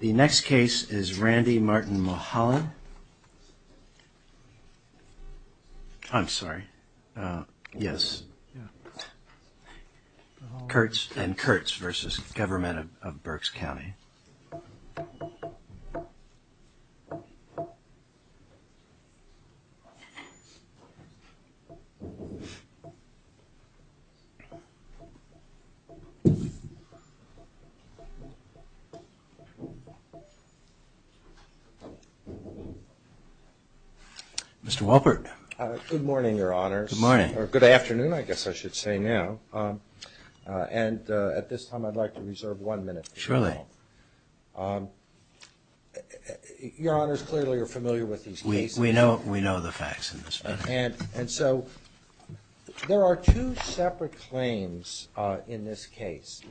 The next case is Randy Martin Mholland. I'm sorry, yes, Kurtz and Kurtz v. Mr. Wolpert. Good morning, Your Honors. Good morning. Or good afternoon, I guess I should say now. And at this time I'd like to reserve one minute. Surely. Your Honors clearly are familiar with these cases. We know the facts in this matter. And so there are two separate claims in this case.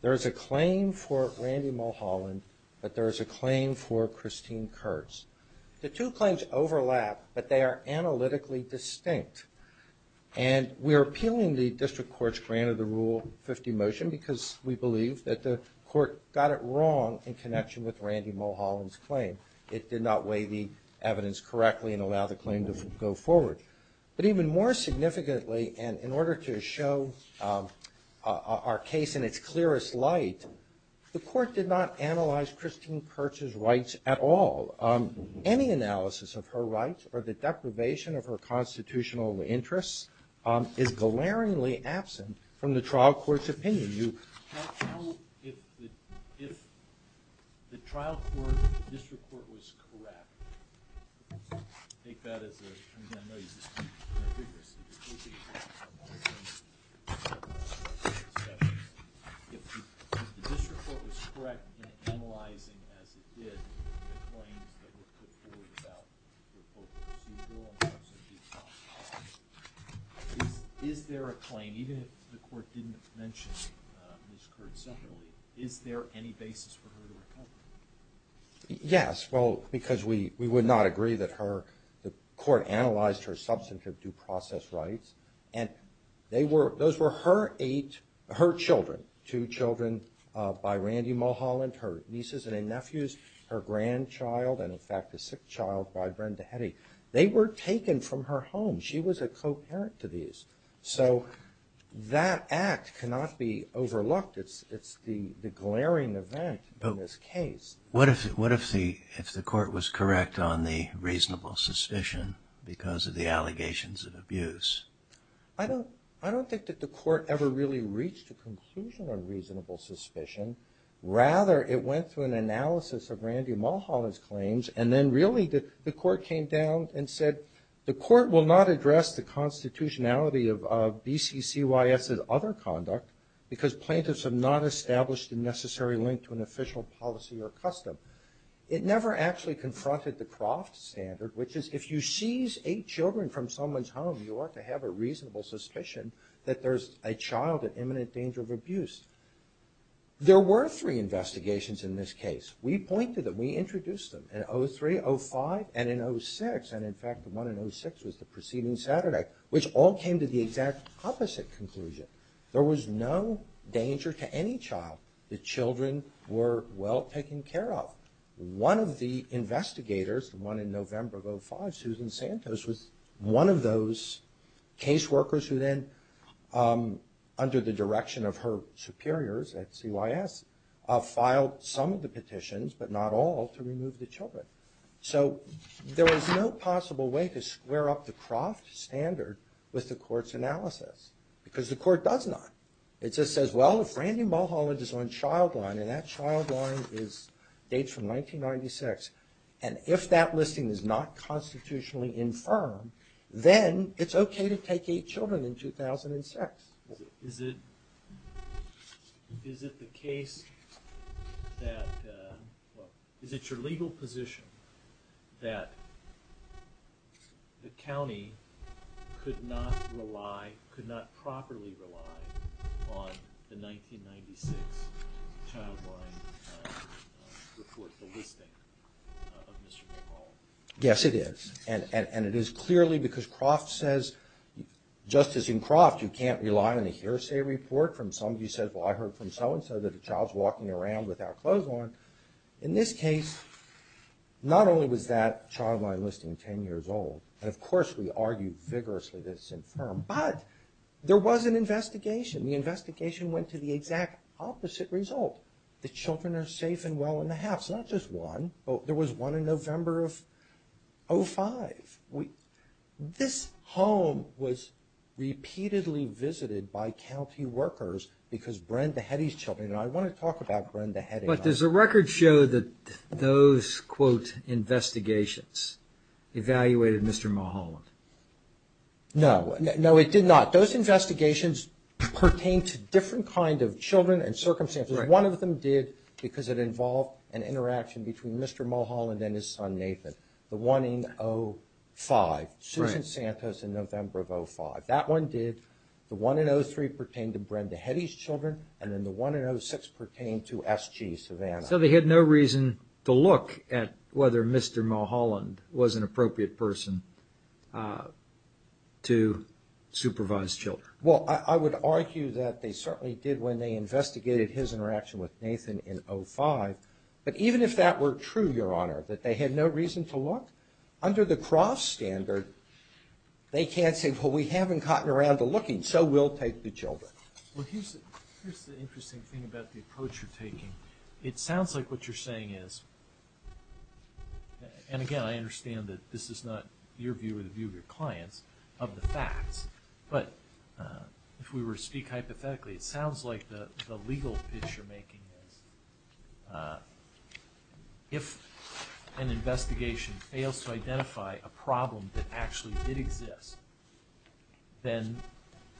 There is a claim for Randy Mholland, but there is a claim for Christine Kurtz. The two claims overlap, but they are analytically distinct. And we are appealing the district court's grant of the Rule 50 motion because we believe that the court got it wrong in connection with Randy Mholland's claim. It did not weigh the evidence correctly and allow the claim to go forward. But even more significantly, and in order to show our case in its clearest light, the court did not analyze Christine Kurtz's rights at all. Any analysis of her rights or the deprivation of her constitutional interests is glaringly absent from the trial court's opinion. How, if the trial court, the district court was correct, take that as a, I know you just can't figure this, if the district court was correct in analyzing, as it did, the claims that were put forward about the report of the proceedings, is there a claim, even if the court didn't mention Ms. Kurtz separately, is there any basis for her to recover? Yes, well, because we would not agree that her, the court analyzed her substantive due process rights, and they were, those were her eight, her children, two children by Randy Mholland, her nieces and nephews, her grandchild, and in fact a sick child by Brenda Hetty. They were taken from her home. She was a co-parent to these. So that act cannot be overlooked. It's the glaring event in this case. But what if the court was correct on the reasonable suspicion because of the allegations of abuse? I don't, I don't think that the court ever really reached a conclusion on reasonable suspicion. Rather, it went through an analysis of Randy Mholland's claims and then really the court came down and said the court will not address the constitutionality of BCCYS's other conduct because plaintiffs have not established a necessary link to an official policy or custom. It never actually confronted the Croft standard, which is if you seize eight children from someone's home, you ought to have a reasonable suspicion that there's a child at imminent danger of abuse. There were three investigations in this case. We pointed them, we introduced them in 03, 05, and in 06, and in fact the one in 06 was the preceding Saturday, which all came to the exact opposite conclusion. There was no danger to any child. The children were well taken care of. One of the investigators, the one in November of 05, Susan Santos, was one of those case workers who then, under the direction of her superiors at CYS, filed some of the petitions, but not all, to remove the children. So there was no possible way to square up the Croft standard with the court's analysis because the court does not. It just says, well, if Randy Mholland is on child line, and that child line dates from 1996, and if that listing is not constitutionally infirm, then it's okay to take eight children in 2006. Is it the case that, is it your legal position that the county could not rely, could not Yes, it is. And it is clearly because Croft says, just as in Croft, you can't rely on a hearsay report from somebody who says, well, I heard from so-and-so that a child's walking around without clothes on. In this case, not only was that child line listing ten years old, and of course we argued vigorously that it's infirm, but there was an investigation. The investigation went to the exact opposite result. The children are safe and well in November of 2005. This home was repeatedly visited by county workers because Brenda Heddy's children, and I want to talk about Brenda Heddy. But does the record show that those, quote, investigations evaluated Mr. Mholland? No. No, it did not. Those investigations pertained to different kind of children and circumstances. One of them did because it involved an interaction between Mr. Mholland and his son Nathan. The one in 05, Susan Santos in November of 05. That one did. The one in 03 pertained to Brenda Heddy's children, and then the one in 06 pertained to S.G. Savannah. So they had no reason to look at whether Mr. Mholland was an appropriate person to supervise children. Well, I would argue that they certainly did when they investigated his interaction with Nathan in 05, but even if that were true, Your Honor, that they had no reason to look, under the Cross standard, they can't say, well, we haven't gotten around to looking, so we'll take the children. Well, here's the interesting thing about the approach you're taking. It sounds like what you're saying is, and again, I understand that this is not your view or the view of your clients of the facts, but if we were to speak hypothetically, it sounds like the legal pitch you're making is, if an investigation fails to identify a problem that actually did exist, then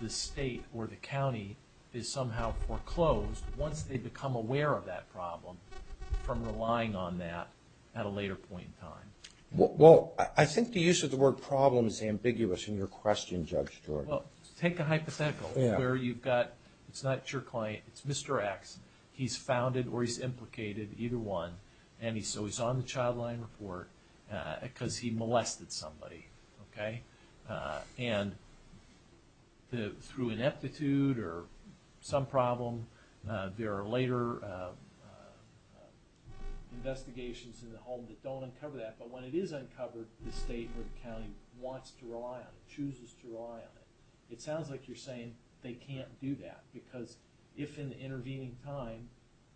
the state or the county is somehow foreclosed, once they become aware of that problem, from relying on that at a later point in time. Well, I think the use of the word problem is ambiguous in your question, Judge Jordan. Well, take a hypothetical where you've got, it's not your client, it's Mr. X, he's founded or he's implicated, either one, and so he's on the child line report because he molested somebody, okay? And through ineptitude or some problem, there are later investigations in the home that don't uncover that, but when it is uncovered, the state or the county wants to rely on it, chooses to rely on it. It sounds like you're saying they can't do that, because if in the intervening time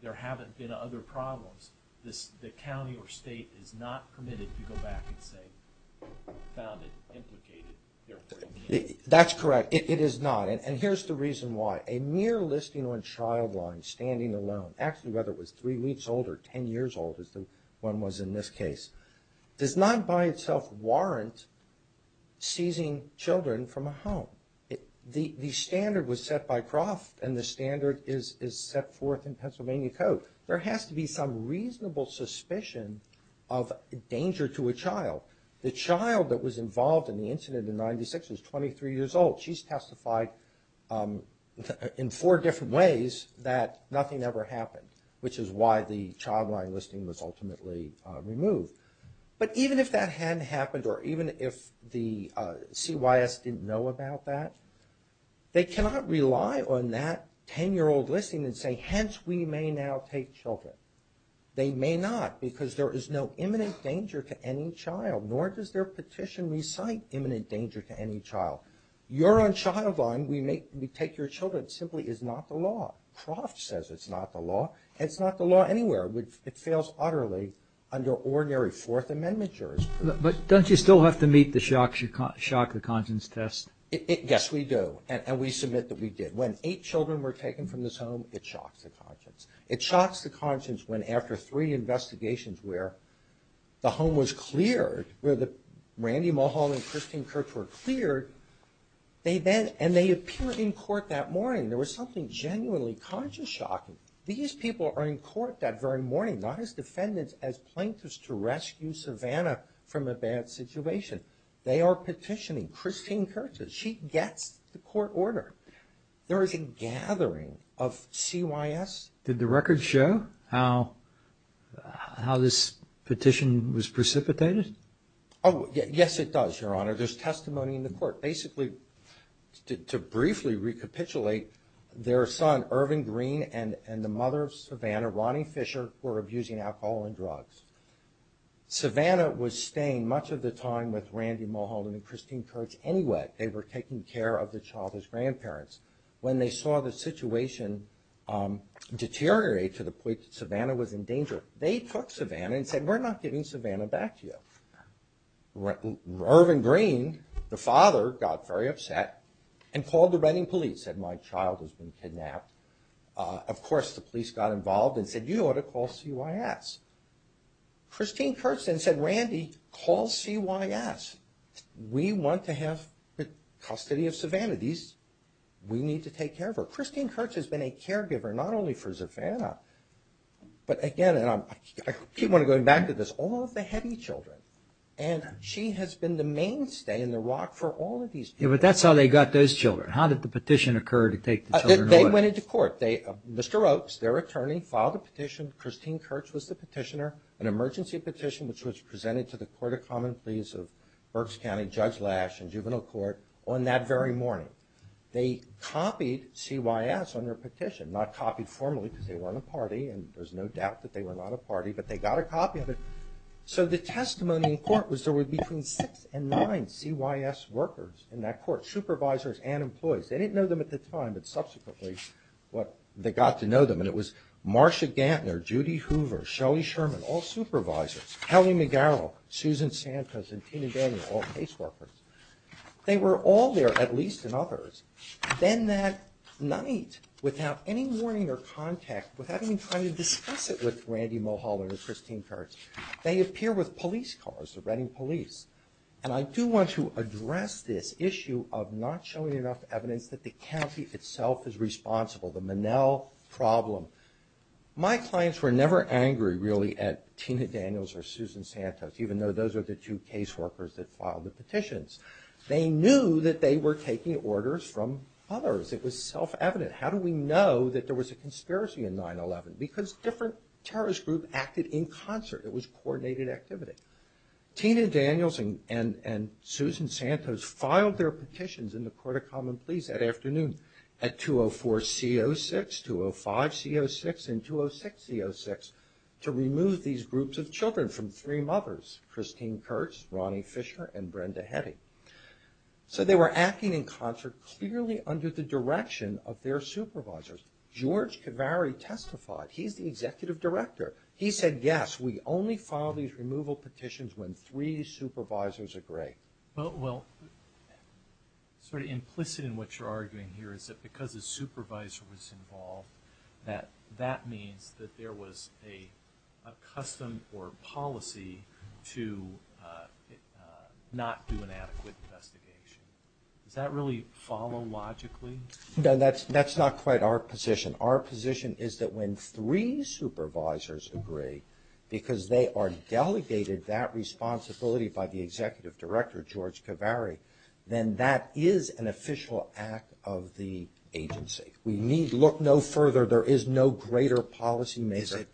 there haven't been other problems, the county or state is not permitted to go back and say, found it, implicated, therefore it can't. That's correct. It is not. And here's the reason why. A mere listing on child line, standing alone, actually whether it was three weeks old or ten years old, as the one was in this case, does not by itself warrant seizing children from a home. The standard was set by Croft and the standard is set forth in Pennsylvania Code. There has to be some reasonable suspicion of danger to a child. The child that was involved in the incident in 1996 is 23 years old. She's testified in four different ways that nothing ever happened, which is why the child line listing was ultimately removed. But even if that hadn't happened or even if the CYS didn't know about that, they cannot rely on that ten-year-old listing and say, hence we may now take children. They may not, because there is no imminent danger to any child, nor does their petition recite imminent danger to any child. Your own child line, we take your children, simply is not the law. Croft says it's not the law, and it's not the law anywhere. It fails utterly under ordinary Fourth Amendment jurors. But don't you still have to meet the shock the conscience test? Yes, we do. And we submit that we did. When eight children were taken from this home, it shocks the conscience. It shocks the conscience when after three investigations where the home was cleared, where Randy Mulholland and Christine Kirch were cleared, and they appear in court that morning. There was something genuinely conscience shocking. These people are in court that very morning, not as defendants as plaintiffs to rescue Savannah from a bad situation. They are petitioning. Christine Kirch, she gets the court order. There is a gathering of CYS. Did the record show how this petition was precipitated? Yes, it does, Your Honor. There is testimony in the court. Basically, to briefly recapitulate, their son, Irvin Green, and the mother of Savannah, Ronnie Fisher, were abusing alcohol and drugs. Savannah was staying much of the time with Randy Mulholland and Christine Kirch anyway. They were taking care of the child as grandparents. When they saw the situation deteriorate to the point that Savannah was in danger, they took Savannah and said, we're not giving Savannah back to you. Irvin Green, the father, got very upset and called the Reading police, said, my child has been kidnapped. Of course, the police got involved and said, you ought to call CYS. Christine Kirch then said, Randy, call CYS. We want to have custody of Savannah. We need to take care of her. Christine Kirch has been a caregiver, not only for Savannah, but again, I keep wanting to go back to this, all of the heavy children. She has been the mainstay and the rock for all of these children. But that's how they got those children. How did the petition occur to take the children away? They went into court. Mr. Oakes, their attorney, filed a petition. Christine Kirch was the petitioner. An emergency petition, which was presented to the Court of Common Pleas of Berks County, Judge Lash, and Juvenile Court on that very morning. They copied CYS on their petition. Not copied formally, because they weren't a party, and there's no doubt that they were not a party, but they got a copy of it. So the testimony in court was there were between six and nine CYS workers in that court, supervisors and employees. They didn't know them at the time, but subsequently, they got to know them, and it was Marcia Gantner, Judy Hoover, Shelly Sherman, all supervisors, Kelly McGarrel, Susan Santos, and Tina Daniel, all CASE workers. They were all there, at least, and others. Then that night, without any warning or contact, without any time to discuss it with Randy Mulholland or Christine Kirch, they appear with police cars, the Reading police. And I do want to address this issue of not showing enough evidence that the county itself is responsible, the Monell problem. My clients were never angry, really, at Tina Daniels or Susan Santos, even though those are the two CASE workers that filed the petitions. They knew that they were taking orders from others. It was self-evident. How do we know that there was a conspiracy in 9-11? Because different terrorist groups acted in concert. It was coordinated activity. Tina Daniels and Susan Santos filed their petitions in the Court of Common Pleas that afternoon at 204-C-06, 205-C-06, and 206-C-06 to remove these groups of children from three mothers, Christine Kirch, Ronnie Fisher, and Brenda Hetty. So they were acting in concert clearly under the direction of their supervisors. George Cavari testified. He's the executive director. He said, yes, we only file these removal petitions when three supervisors agree. Well, sort of implicit in what you're arguing here is that because a supervisor was involved that that means that there was a custom or policy to not do an adequate investigation. Does that really follow logically? No, that's not quite our position. Our position is that when three supervisors agree, because they are delegated that responsibility by the executive director, George Cavari, then that is an official act of the agency. We need look no further. There is no greater policy maker.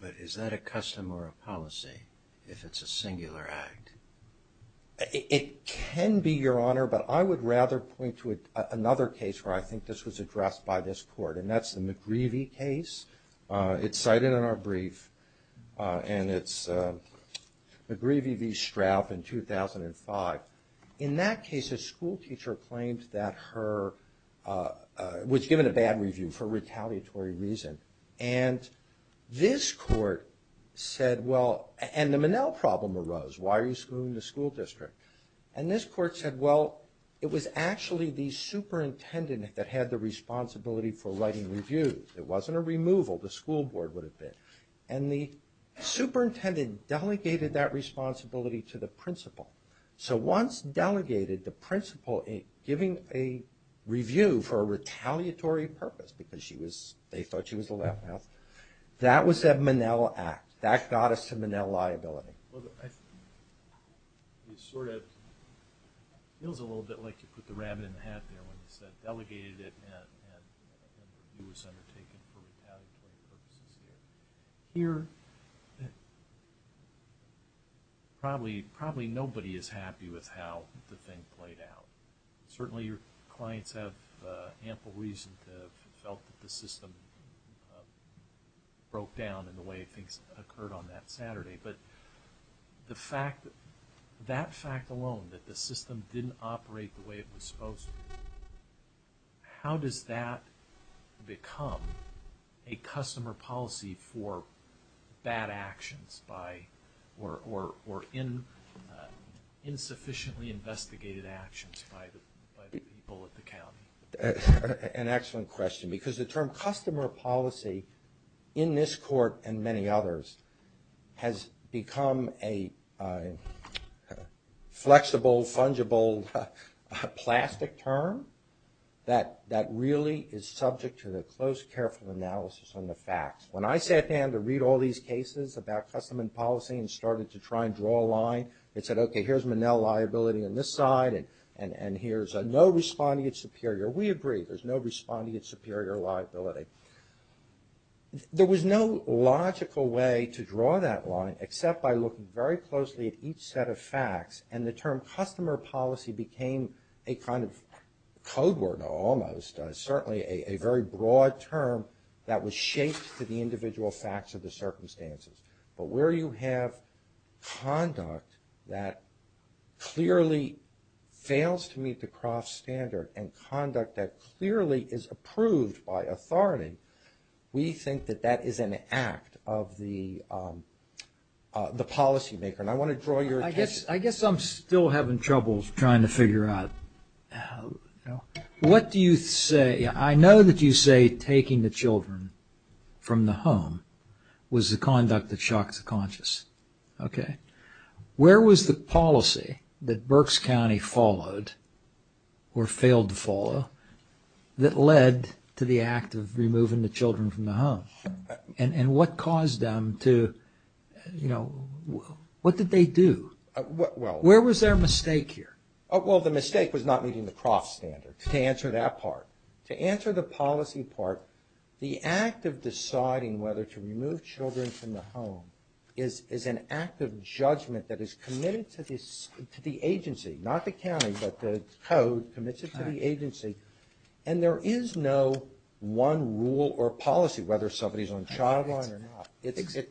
But is that a custom or a policy if it's a singular act? It can be, Your Honor, but I would rather point to another case where I think this was addressed by this court, and that's the McGreevey case. It's cited in our brief, and it's McGreevey v. Straff in 2005. In that case, a schoolteacher claimed that her, was given a bad review for retaliatory reason. And this court said, well, and the Minnell problem arose. Why are you screwing the school district? And this court said, well, it was actually the superintendent that had the responsibility for writing reviews. It wasn't a removal. The school board would have been. And the superintendent delegated that responsibility to the principal. So once delegated, the principal giving a review for a retaliatory purpose because she was, they thought she was the left house, that was a Minnell act. That got us to Minnell liability. Well, it sort of feels a little bit like you put the rabbit in the hat there when you said delegated it and a review was undertaken for retaliatory purposes here. Here, probably nobody is happy with how the thing played out. Certainly your clients have ample reason to have felt that the system broke down in the way things occurred on that Saturday. But the fact, that fact alone, that the system didn't operate the way it was supposed to, how does that become a customer policy for bad actions by, or insufficiently investigated actions by the people at the county? An excellent question. Because the term customer policy in this court and many others has become a flexible, fungible, plastic term that really is subject to the close, careful analysis on the facts. When I sat down to read all these cases about customer policy and started to try and draw a line and said, okay, here's Minnell liability on this side and here's a no responding at superior. We agree, there's no responding at superior liability. There was no logical way to draw that line except by looking very closely at each set of facts and the term customer policy became a kind of code word almost, certainly a very broad term that was shaped to the individual facts of the circumstances. But where you have conduct that clearly fails to meet the cross standard and conduct that clearly is approved by authority, we think that that is an act of the policy maker. And I want to draw your attention... I guess I'm still having trouble trying to figure out, what do you say, I know that you say taking the children from the home was the conduct that shocks the conscious. Okay. Where was the policy that Berks County followed, or failed to follow, that led to the act of Where was their mistake here? Well, the mistake was not meeting the cross standard, to answer that part. To answer the policy part, the act of deciding whether to remove children from the home is an act of judgment that is committed to the agency, not the county, but the code commits it to the agency. And there is no one rule or policy, whether somebody's on the child line or not. It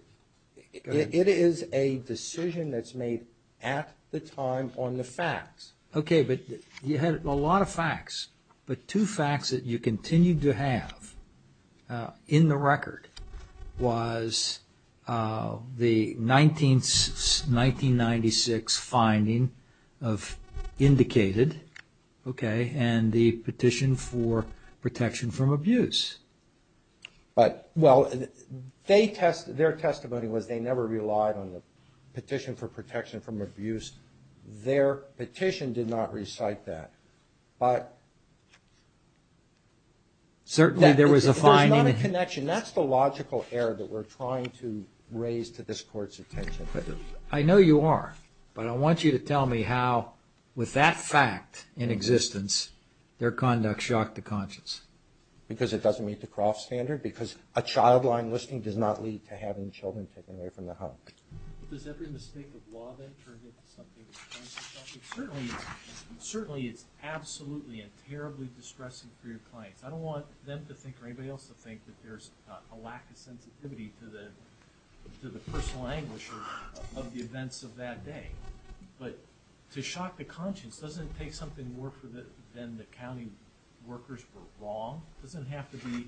is a decision that's made at the time on the facts. Okay, but you had a lot of facts, but two facts that you continued to have in the record was the 1996 finding of indicated, okay, and the petition for protection from abuse. But, well, their testimony was they never relied on the petition for protection from abuse. Their petition did not recite that, but... Certainly there was a finding... There's not a connection. That's the logical error that we're trying to raise to this court's attention. I know you are, but I want you to tell me how, with that fact in existence, their conduct shocked the conscience. Because it doesn't meet the Croft standard, because a child line listing does not lead to having children taken away from the home. Does every mistake of law then turn into something... Certainly it's absolutely and terribly distressing for your clients. I don't want them to think, or anybody else to think, that there's a lack of sensitivity to the personal anguish of the events of that day. But to shock the conscience doesn't take something more than the county workers were wrong. It doesn't have to be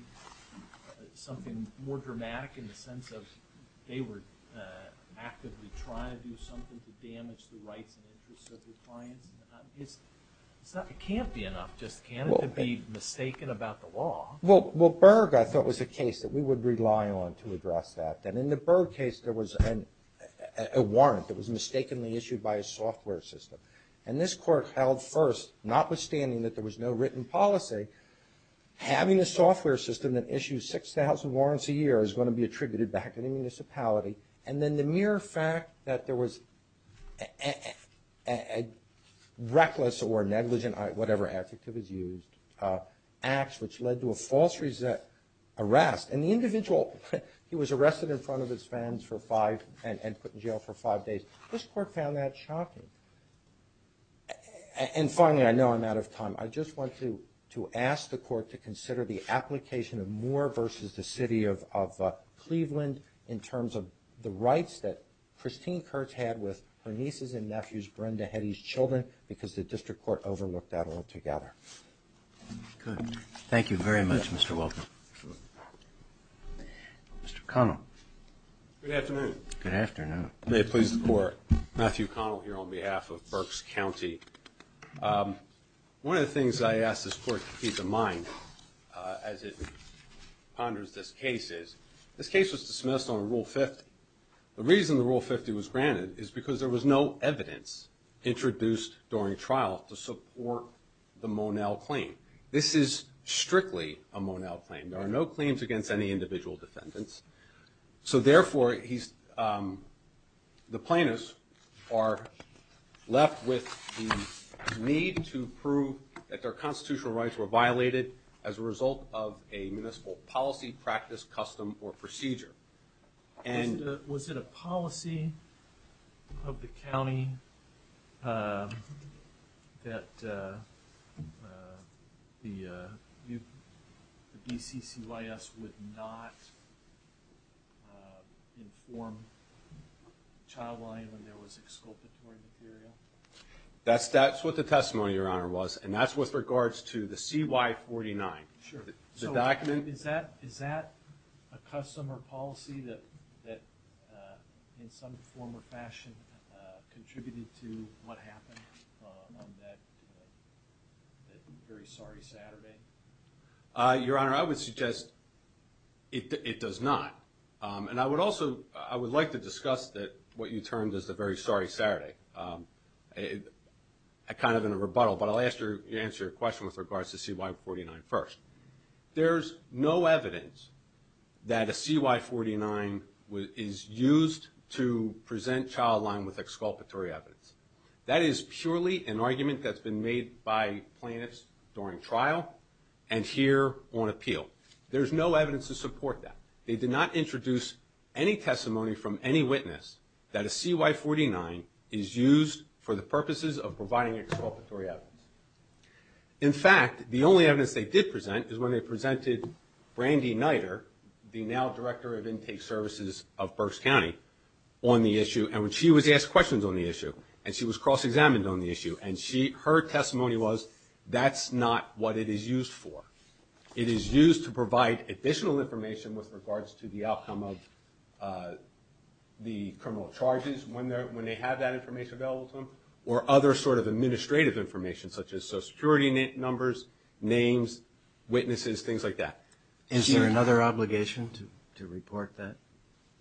something more dramatic in the sense of they were actively trying to do something to damage the rights and interests of their clients. It can't be enough just to be mistaken about the law. Well, Berg, I thought, was a case that we would rely on to address that. And in the Berg case, there was a warrant that was mistakenly issued by a software system. And this court held first, notwithstanding that there was no written policy, having a software system that issues 6,000 warrants a year is going to be attributed back to the municipality. And then the mere fact that there was a reckless or negligent, whatever adjective is used, act which led to a false arrest. And the individual, he was arrested in front of his friends and put in jail for five days. This court found that shocking. And finally, I know I'm out of time. I just want to ask the court to consider the application of Moore versus the city of Cleveland in terms of the rights that Christine Kurtz had with her nieces and nephews, Brenda Heddy's children, because the district court overlooked that altogether. Good. Thank you very much, Mr. Wilk. Mr. Connell. Good afternoon. Good afternoon. May it please the court. Matthew Connell here on behalf of Berks County. One of the things I asked this court to keep in mind as it ponders this case is, this case was dismissed on Rule 50. The reason the Rule 50 was granted is because there was no evidence introduced during trial to support the Monell claim. This is strictly a Monell claim. There are no claims against any individual defendants. So therefore, the plaintiffs are left with the need to prove that their constitutional rights were violated as a result of a municipal policy, practice, custom, or procedure. Was it a policy of the county that the BCCYS would not inform Childline when there was exculpatory material? That's what the testimony, Your Honor, was. And that's with regards to the CY49. Sure. Is that a custom or policy that in some form or fashion contributed to what happened on that very sorry Saturday? Your Honor, I would suggest it does not. And I would also like to discuss what you termed as the very sorry Saturday, kind of in a rebuttal. But I'll answer your question with regards to CY49 first. There's no evidence that a CY49 is used to present Childline with exculpatory evidence. That is purely an argument that's been made by plaintiffs during trial and here on appeal. There's no evidence to support that. They did not introduce any testimony from any witness that a CY49 is used for the purposes of providing exculpatory evidence. In fact, the only evidence they did present is when they presented Brandy Niter, the now Director of Intake Services of Berks County, on the issue. And when she was asked questions on the issue, and she was cross-examined on the issue, and her testimony was that's not what it is used for. It is used to provide additional information with regards to the outcome of the criminal charges when they have that information available to them, or other sort of administrative information, such as Social Security numbers, names, witnesses, things like that. Is there another obligation to report that?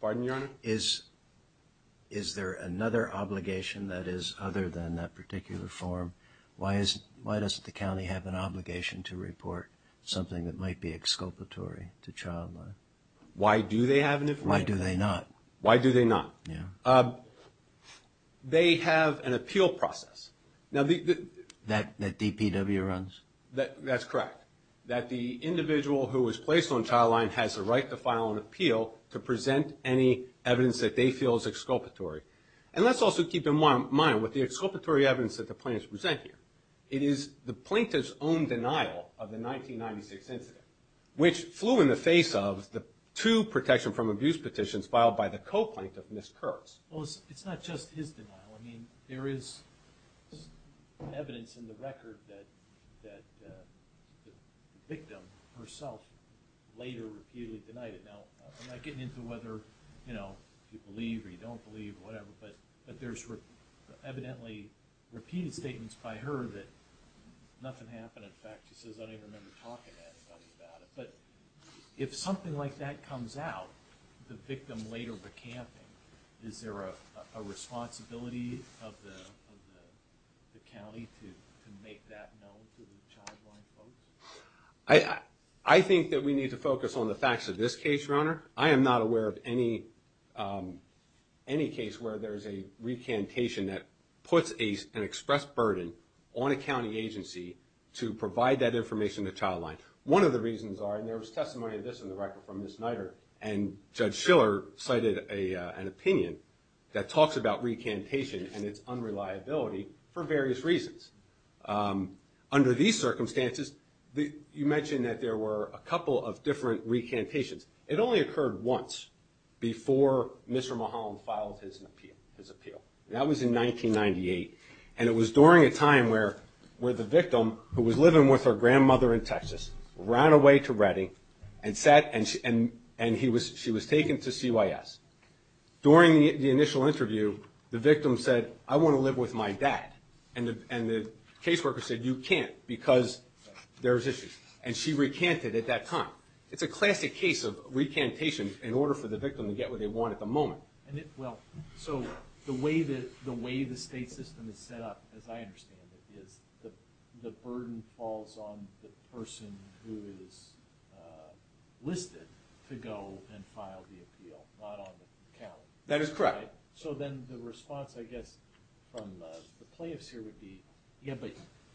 Pardon, Your Honor? Is there another obligation that is other than that particular form? Why does the county have an obligation to report something that might be exculpatory to Childline? Why do they have an obligation? Why do they not? Why do they not? They have an appeal process. That DPW runs? That's correct. That the individual who was placed on Childline has the right to file an appeal to present any evidence that they feel is exculpatory. And let's also keep in mind with the exculpatory evidence that the plaintiffs present here, it is the plaintiff's own denial of the 1996 incident, which flew in the face of the two protection from abuse petitions filed by the co-plaintiff, Ms. Kurtz. Well, it's not just his denial. I mean, there is evidence in the record that the victim herself later repeatedly denied it. Now, I'm not getting into whether, you know, you believe or you don't believe or whatever, but there's evidently repeated statements by her that nothing happened. In fact, she says, I don't even remember talking to anybody about it. But if something like that comes out, the victim later recanting, is there a responsibility of the county to make that known to the Childline folks? I think that we need to focus on the facts of this case, Your Honor. I am not aware of any case where there is a recantation that puts an express burden on a county agency to provide that information to Childline. One of the reasons are, and there was testimony of this in the record from Ms. Niter, and Judge Schiller cited an opinion that talks about recantation and its unreliability for various reasons. Under these circumstances, you mentioned that there were a couple of different recantations. It only occurred once before Mr. Mulholland filed his appeal. That was in 1998. And it was during a time where the victim, who was living with her grandmother in Texas, ran away to Redding and she was taken to CYS. During the initial interview, the victim said, I want to live with my dad. And the caseworker said, you can't because there's issues. And she recanted at that time. It's a classic case of recantation in order for the victim to get what they want at the moment. So the way the state system is set up, as I understand it, is the burden falls on the person who is listed to go and file the appeal, not on the county. That is correct. So then the response, I guess, from the plaintiffs here would be, yeah,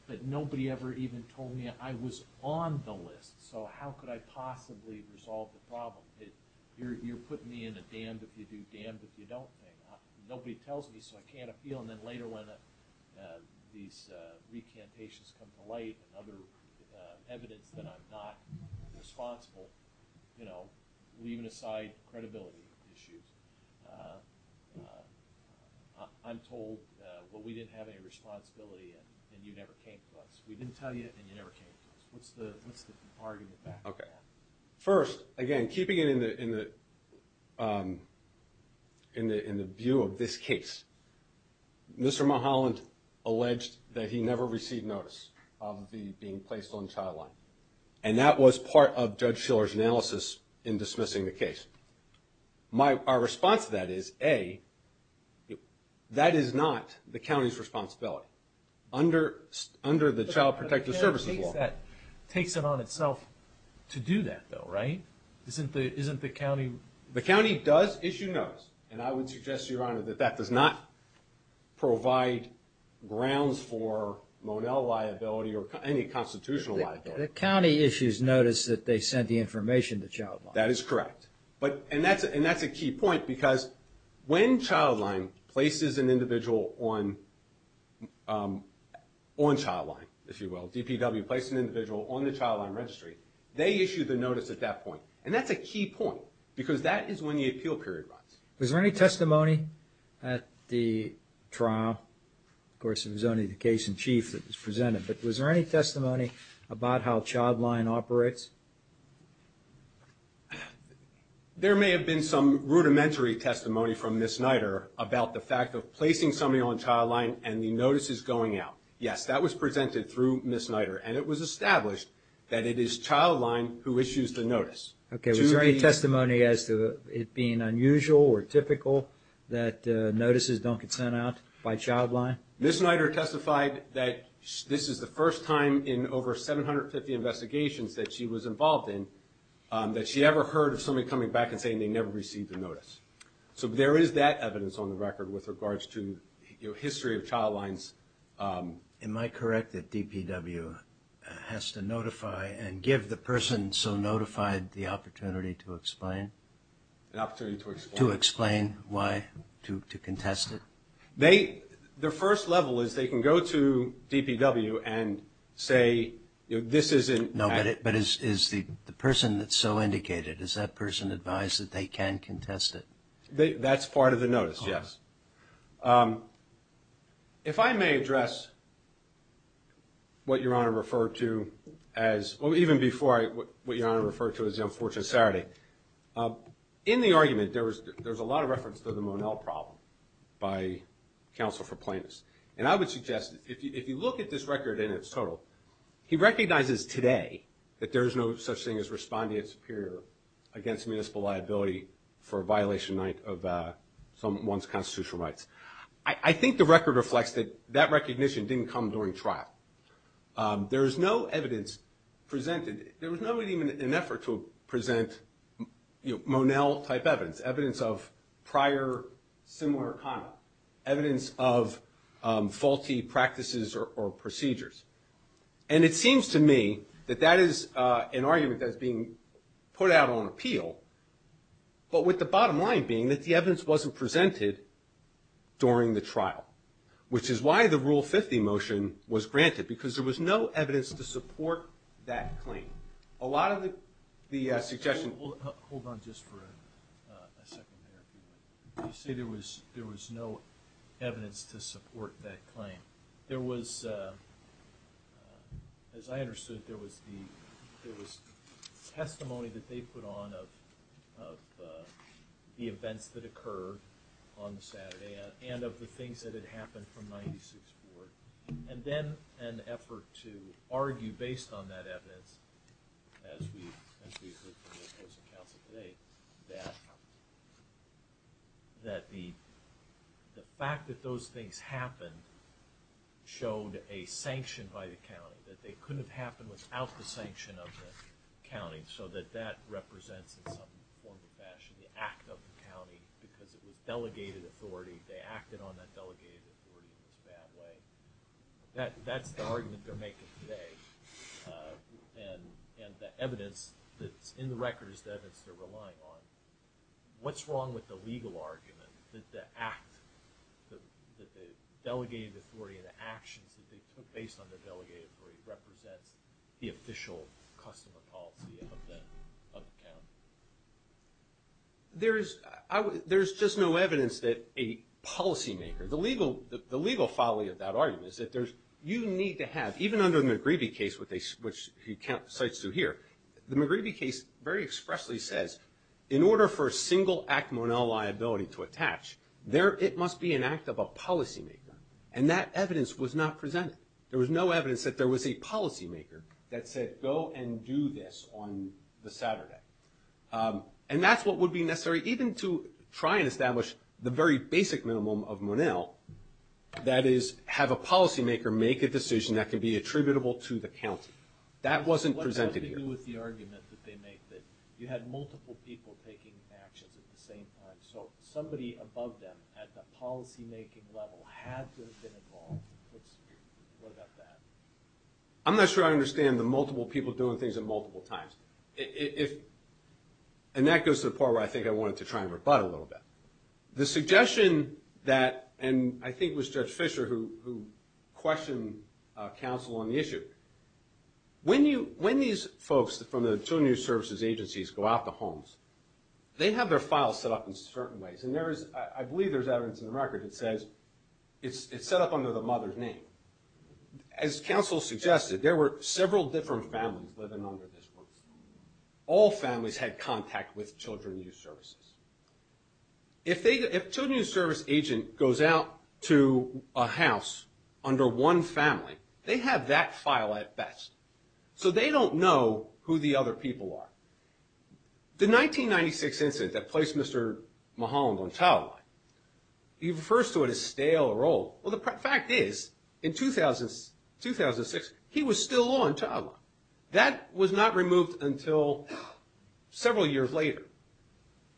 but nobody ever even told me I was on the list, so how could I possibly resolve the problem? You're putting me in a damned-if-you-do, damned-if-you-don't thing. Nobody tells me, so I can't appeal. And then later when these recantations come to light and other evidence that I'm not responsible, you know, leaving aside credibility issues, I'm told, well, we didn't have any responsibility and you never came to us. We didn't tell you and you never came to us. What's the argument back there? First, again, keeping it in the view of this case, Mr. Mulholland alleged that he never received notice of being placed on the child line, and that was part of Judge Shiller's analysis in dismissing the case. Our response to that is, A, that is not the county's responsibility. Under the Child Protective Services Law. That takes it on itself to do that, though, right? Isn't the county? The county does issue notice, and I would suggest, Your Honor, that that does not provide grounds for Monell liability or any constitutional liability. The county issues notice that they sent the information to Childline. That is correct, and that's a key point because when Childline places an individual on Childline, if you will, DPW places an individual on the child line registry, they issue the notice at that point, and that's a key point because that is when the appeal period runs. Was there any testimony at the trial? Of course, it was only the case in chief that was presented, but was there any testimony about how Childline operates? There may have been some rudimentary testimony from Ms. Snyder about the fact of placing somebody on Childline and the notices going out. Yes, that was presented through Ms. Snyder, and it was established that it is Childline who issues the notice. Okay. Was there any testimony as to it being unusual or typical that notices don't get sent out by Childline? Ms. Snyder testified that this is the first time in over 750 investigations that she was involved in that she ever heard of somebody coming back and saying they never received a notice. So there is that evidence on the record with regards to history of Childline's. Am I correct that DPW has to notify and give the person so notified the opportunity to explain? An opportunity to explain. To explain why, to contest it? Their first level is they can go to DPW and say this isn't. No, but is the person that's so indicated, is that person advised that they can contest it? That's part of the notice, yes. If I may address what Your Honor referred to as, or even before what Your Honor referred to as the unfortunate Saturday, in the argument there was a lot of reference to the Monell problem by counsel for plaintiffs. And I would suggest if you look at this record in its total, he recognizes today that there is no such thing as responding as superior against municipal liability for a violation of someone's constitutional rights. I think the record reflects that that recognition didn't come during trial. There is no evidence presented, there was not even an effort to present Monell type evidence, evidence of prior similar conduct, evidence of faulty practices or procedures. And it seems to me that that is an argument that is being put out on appeal, but with the bottom line being that the evidence wasn't presented during the trial, which is why the Rule 50 motion was granted, because there was no evidence to support that claim. A lot of the suggestions... Hold on just for a second there. You say there was no evidence to support that claim. There was, as I understood, there was testimony that they put on of the events that occurred on the Saturday and of the things that had happened from 96 Board. And then an effort to argue based on that evidence, as we heard from the opposing counsel today, that the fact that those things happened showed a sanction by the county, that they couldn't have happened without the sanction of the county, so that that represents in some form or fashion the act of the county, because it was delegated authority. They acted on that delegated authority in this bad way. That's the argument they're making today. And the evidence that's in the record is the evidence they're relying on. What's wrong with the legal argument that the act, that the delegated authority and the actions that they took based on their delegated authority represents the official customer policy of the county? There's just no evidence that a policymaker, the legal folly of that argument is that you need to have, even under the McGreevy case, which he cites through here, the McGreevy case very expressly says in order for a single act monel liability to attach, it must be an act of a policymaker. And that evidence was not presented. There was no evidence that there was a policymaker that said, go and do this on the Saturday. And that's what would be necessary, even to try and establish the very basic minimum of monel, that is have a policymaker make a decision that can be attributable to the county. That wasn't presented here. What does it do with the argument that they made, that you had multiple people taking actions at the same time, so somebody above them at the policymaking level had to have been involved? What about that? I'm not sure I understand the multiple people doing things at multiple times. And that goes to the part where I think I wanted to try and rebut a little bit. The suggestion that, and I think it was Judge Fischer who questioned counsel on the issue, when these folks from the Children and Youth Services agencies go out to homes, they have their files set up in certain ways. And I believe there's evidence in the record that says it's set up under the mother's name. As counsel suggested, there were several different families living under this work. All families had contact with Children and Youth Services. If a Children and Youth Service agent goes out to a house under one family, they have that file at best. So they don't know who the other people are. The 1996 incident that placed Mr. Mulholland on child line, he refers to it as stale or old. Well, the fact is, in 2006, he was still on child line. That was not removed until several years later.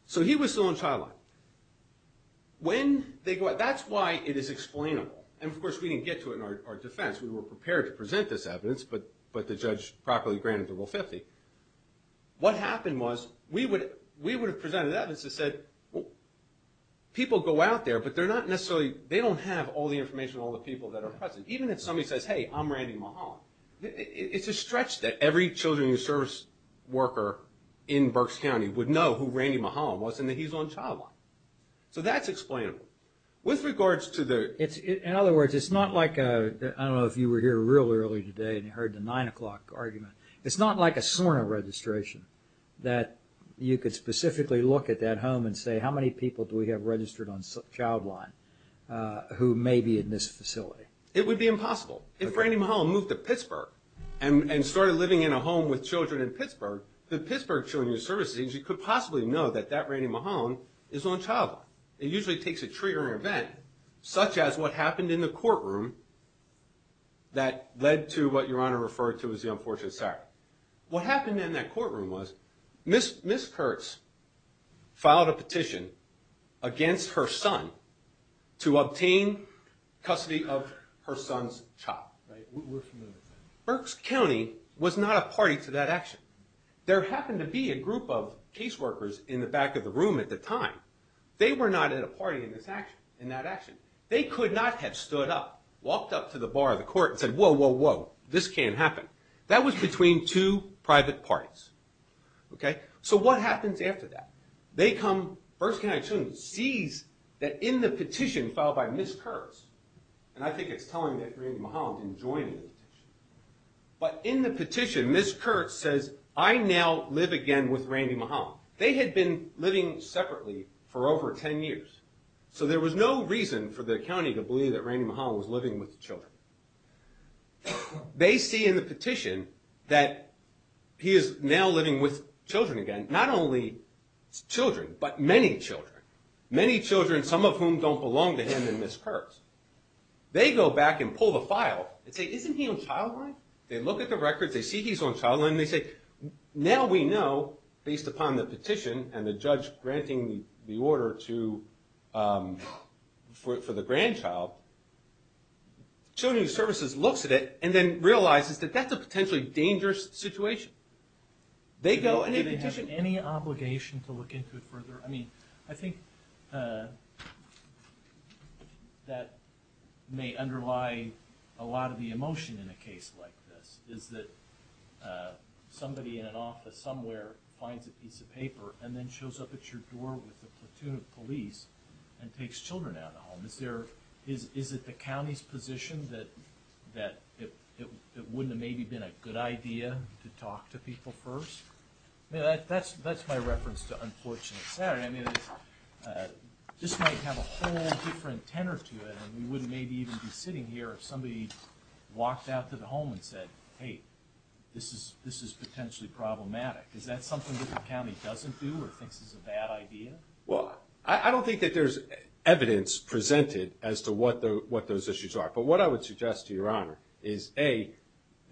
So he was still on child line. That's why it is explainable. And, of course, we didn't get to it in our defense. We were prepared to present this evidence, but the judge properly granted the Rule 50. What happened was we would have presented evidence that said people go out there, but they don't have all the information on all the people that are present. Even if somebody says, hey, I'm Randy Mulholland. It's a stretch that every Children and Youth Service worker in Berks County would know who Randy Mulholland was and that he's on child line. So that's explainable. In other words, it's not like, I don't know if you were here real early today and you heard the 9 o'clock argument. It's not like a SORNA registration that you could specifically look at that home and say how many people do we have registered on child line who may be in this facility. It would be impossible. If Randy Mulholland moved to Pittsburgh and started living in a home with children in Pittsburgh, the Pittsburgh Children and Youth Services agency could possibly know that that Randy Mulholland is on child line. It usually takes a triggering event, such as what happened in the courtroom that led to what Your Honor referred to as the unfortunate sir. What happened in that courtroom was Ms. Kurtz filed a petition against her son to obtain custody of her son's child. Berks County was not a party to that action. There happened to be a group of caseworkers in the back of the room at the time. They were not at a party in that action. They could not have stood up, walked up to the bar of the court and said, whoa, whoa, whoa, this can't happen. That was between two private parties. So what happens after that? Berks County Children's sees that in the petition filed by Ms. Kurtz, and I think it's telling that Randy Mulholland didn't join in the petition, but in the petition Ms. Kurtz says, I now live again with Randy Mulholland. They had been living separately for over 10 years. So there was no reason for the county to believe that Randy Mulholland was living with the children. They see in the petition that he is now living with children again, not only children, but many children, many children, some of whom don't belong to him and Ms. Kurtz. They go back and pull the file and say, isn't he on child line? They look at the records, they see he's on child line, and they say, now we know, based upon the petition and the judge granting the order for the grandchild, Children's Services looks at it and then realizes that that's a potentially dangerous situation. They go and they petition. Do they have any obligation to look into it further? I think that may underlie a lot of the emotion in a case like this, is that somebody in an office somewhere finds a piece of paper and then shows up at your door with a platoon of police and takes children out of the home. Is it the county's position that it wouldn't have maybe been a good idea to talk to people first? That's my reference to Unfortunate Saturday. I mean, this might have a whole different tenor to it, and we wouldn't maybe even be sitting here if somebody walked out to the home and said, hey, this is potentially problematic. Is that something that the county doesn't do or thinks is a bad idea? Well, I don't think that there's evidence presented as to what those issues are. But what I would suggest to Your Honor is, A,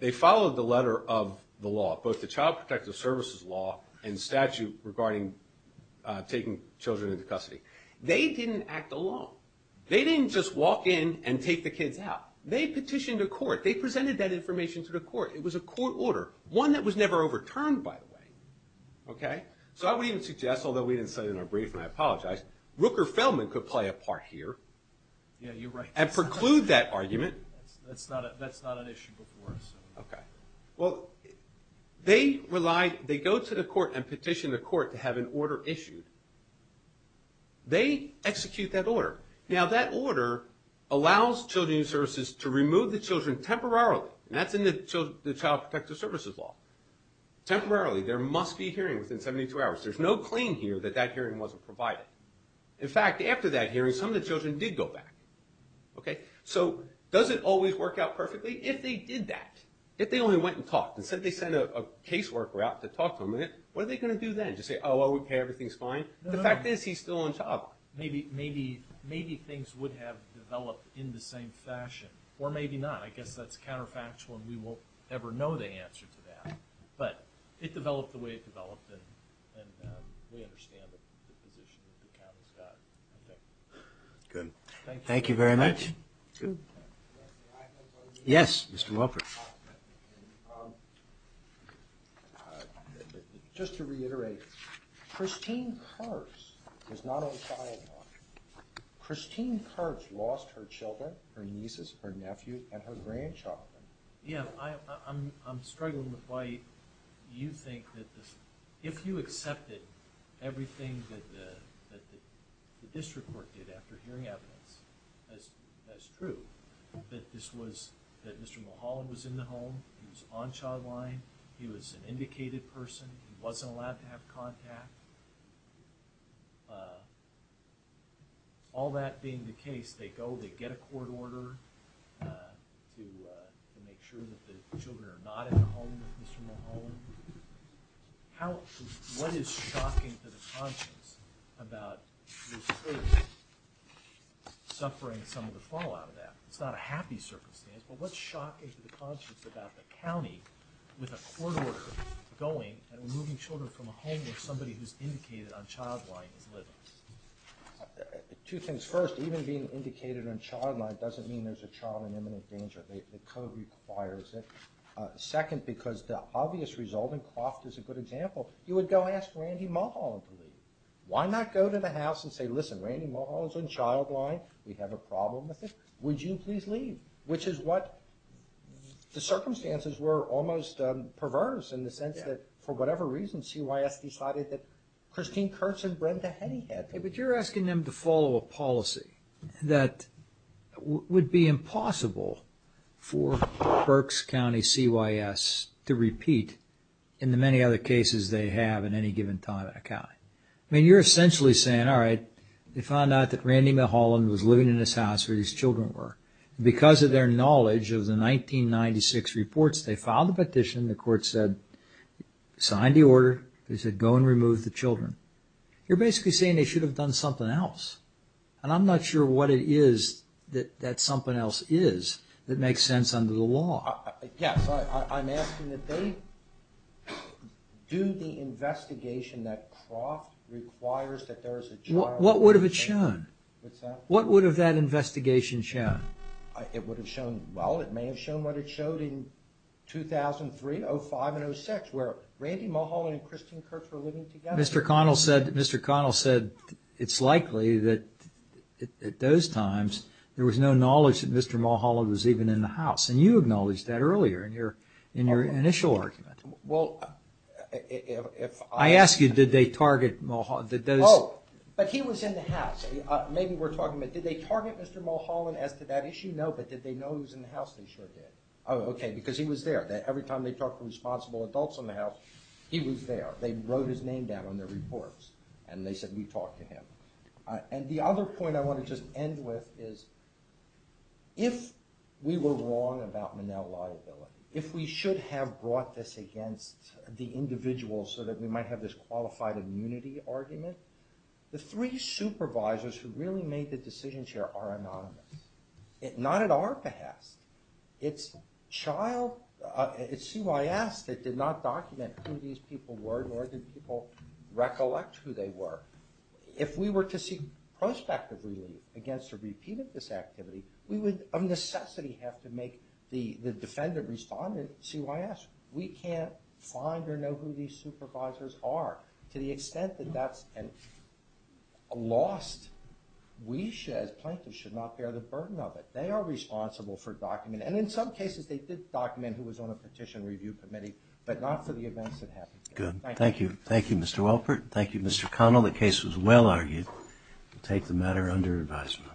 they followed the letter of the law, both the Child Protective Services law and statute regarding taking children into custody. They didn't act alone. They didn't just walk in and take the kids out. They petitioned to court. They presented that information to the court. It was a court order, one that was never overturned, by the way. Okay? So I would even suggest, although we didn't say it in our brief and I apologize, Rooker-Feldman could play a part here and preclude that argument. That's not an issue before us. Okay. Well, they go to the court and petition the court to have an order issued. They execute that order. Now, that order allows Children's Services to remove the children temporarily, and that's in the Child Protective Services law, temporarily. There must be a hearing within 72 hours. There's no claim here that that hearing wasn't provided. In fact, after that hearing, some of the children did go back. Okay? So does it always work out perfectly? If they did that, if they only went and talked, instead of they sent a caseworker out to talk to them, what are they going to do then? Just say, oh, okay, everything's fine? The fact is he's still on top. Maybe things would have developed in the same fashion, or maybe not. I guess that's counterfactual, and we won't ever know the answer to that. But it developed the way it developed, and we understand the position that the county's got. Okay. Good. Thank you very much. Thank you. Good. Yes, Mr. Wofford. Just to reiterate, Christine Kars was not on trial. Christine Kars lost her children, her nieces, her nephews, and her grandchildren. Yeah, I'm struggling with why you think that if you accepted everything that the district court did after hearing evidence as true, that this was, that Mr. Mulholland was in the home, he was on child line, he was an indicated person, he wasn't allowed to have contact, all that being the case, they go, they get a court order to make sure that the children are not in the home with Mr. Mulholland. What is shocking to the conscience about this case suffering some of the fallout of that? It's not a happy circumstance, but what's shocking to the conscience about the county with a court order going and removing children from a home where somebody who's indicated on child line is living? Two things. First, even being indicated on child line doesn't mean there's a child in imminent danger. The code requires it. Second, because the obvious result, and Croft is a good example, you would go ask Randy Mulholland to leave. Why not go to the house and say, listen, Randy Mulholland's on child line, we have a problem with it, would you please leave? Which is what, the circumstances were almost perverse in the sense that for whatever reason, CYS decided that Christine Kurtz and Brenda Hennighad But you're asking them to follow a policy that would be impossible for Berks County CYS to repeat in the many other cases they have in any given time at a county. I mean, you're essentially saying, all right, they found out that Randy Mulholland was living in this house where these children were. Because of their knowledge of the 1996 reports, they filed the petition, the court said, signed the order, they said go and remove the children. You're basically saying they should have done something else. And I'm not sure what it is that something else is that makes sense under the law. Yes, I'm asking that they do the investigation that Croft requires that there is a child. What would have it shown? What would have that investigation shown? It would have shown, well, it may have shown what it showed in 2003, 05, and 06, where Randy Mulholland and Christine Kurtz were living together. Mr. Connell said it's likely that at those times, there was no knowledge that Mr. Mulholland was even in the house. And you acknowledged that earlier in your initial argument. I ask you, did they target Mulholland? Oh, but he was in the house. Maybe we're talking about, did they target Mr. Mulholland as to that issue? No, but did they know he was in the house? They sure did. Oh, okay, because he was there. Every time they talked to responsible adults in the house, he was there. They wrote his name down on their reports, and they said, we talked to him. And the other point I want to just end with is, if we were wrong about Monell liability, if we should have brought this against the individual so that we might have this qualified immunity argument, the three supervisors who really made the decisions here are anonymous. Not at our behest. It's CYS that did not document who these people were, nor did people recollect who they were. If we were to seek prospective relief against a repeat of this activity, we would, of necessity, have to make the defendant respond in CYS. We can't find or know who these supervisors are. To the extent that that's lost, we, as plaintiffs, should not bear the burden of it. They are responsible for documenting. And in some cases, they did document who was on a petition review committee, but not for the events that happened here. Good. Thank you. Thank you, Mr. Welpert. Thank you, Mr. Connell. The case was well argued. We'll take the matter under advisement.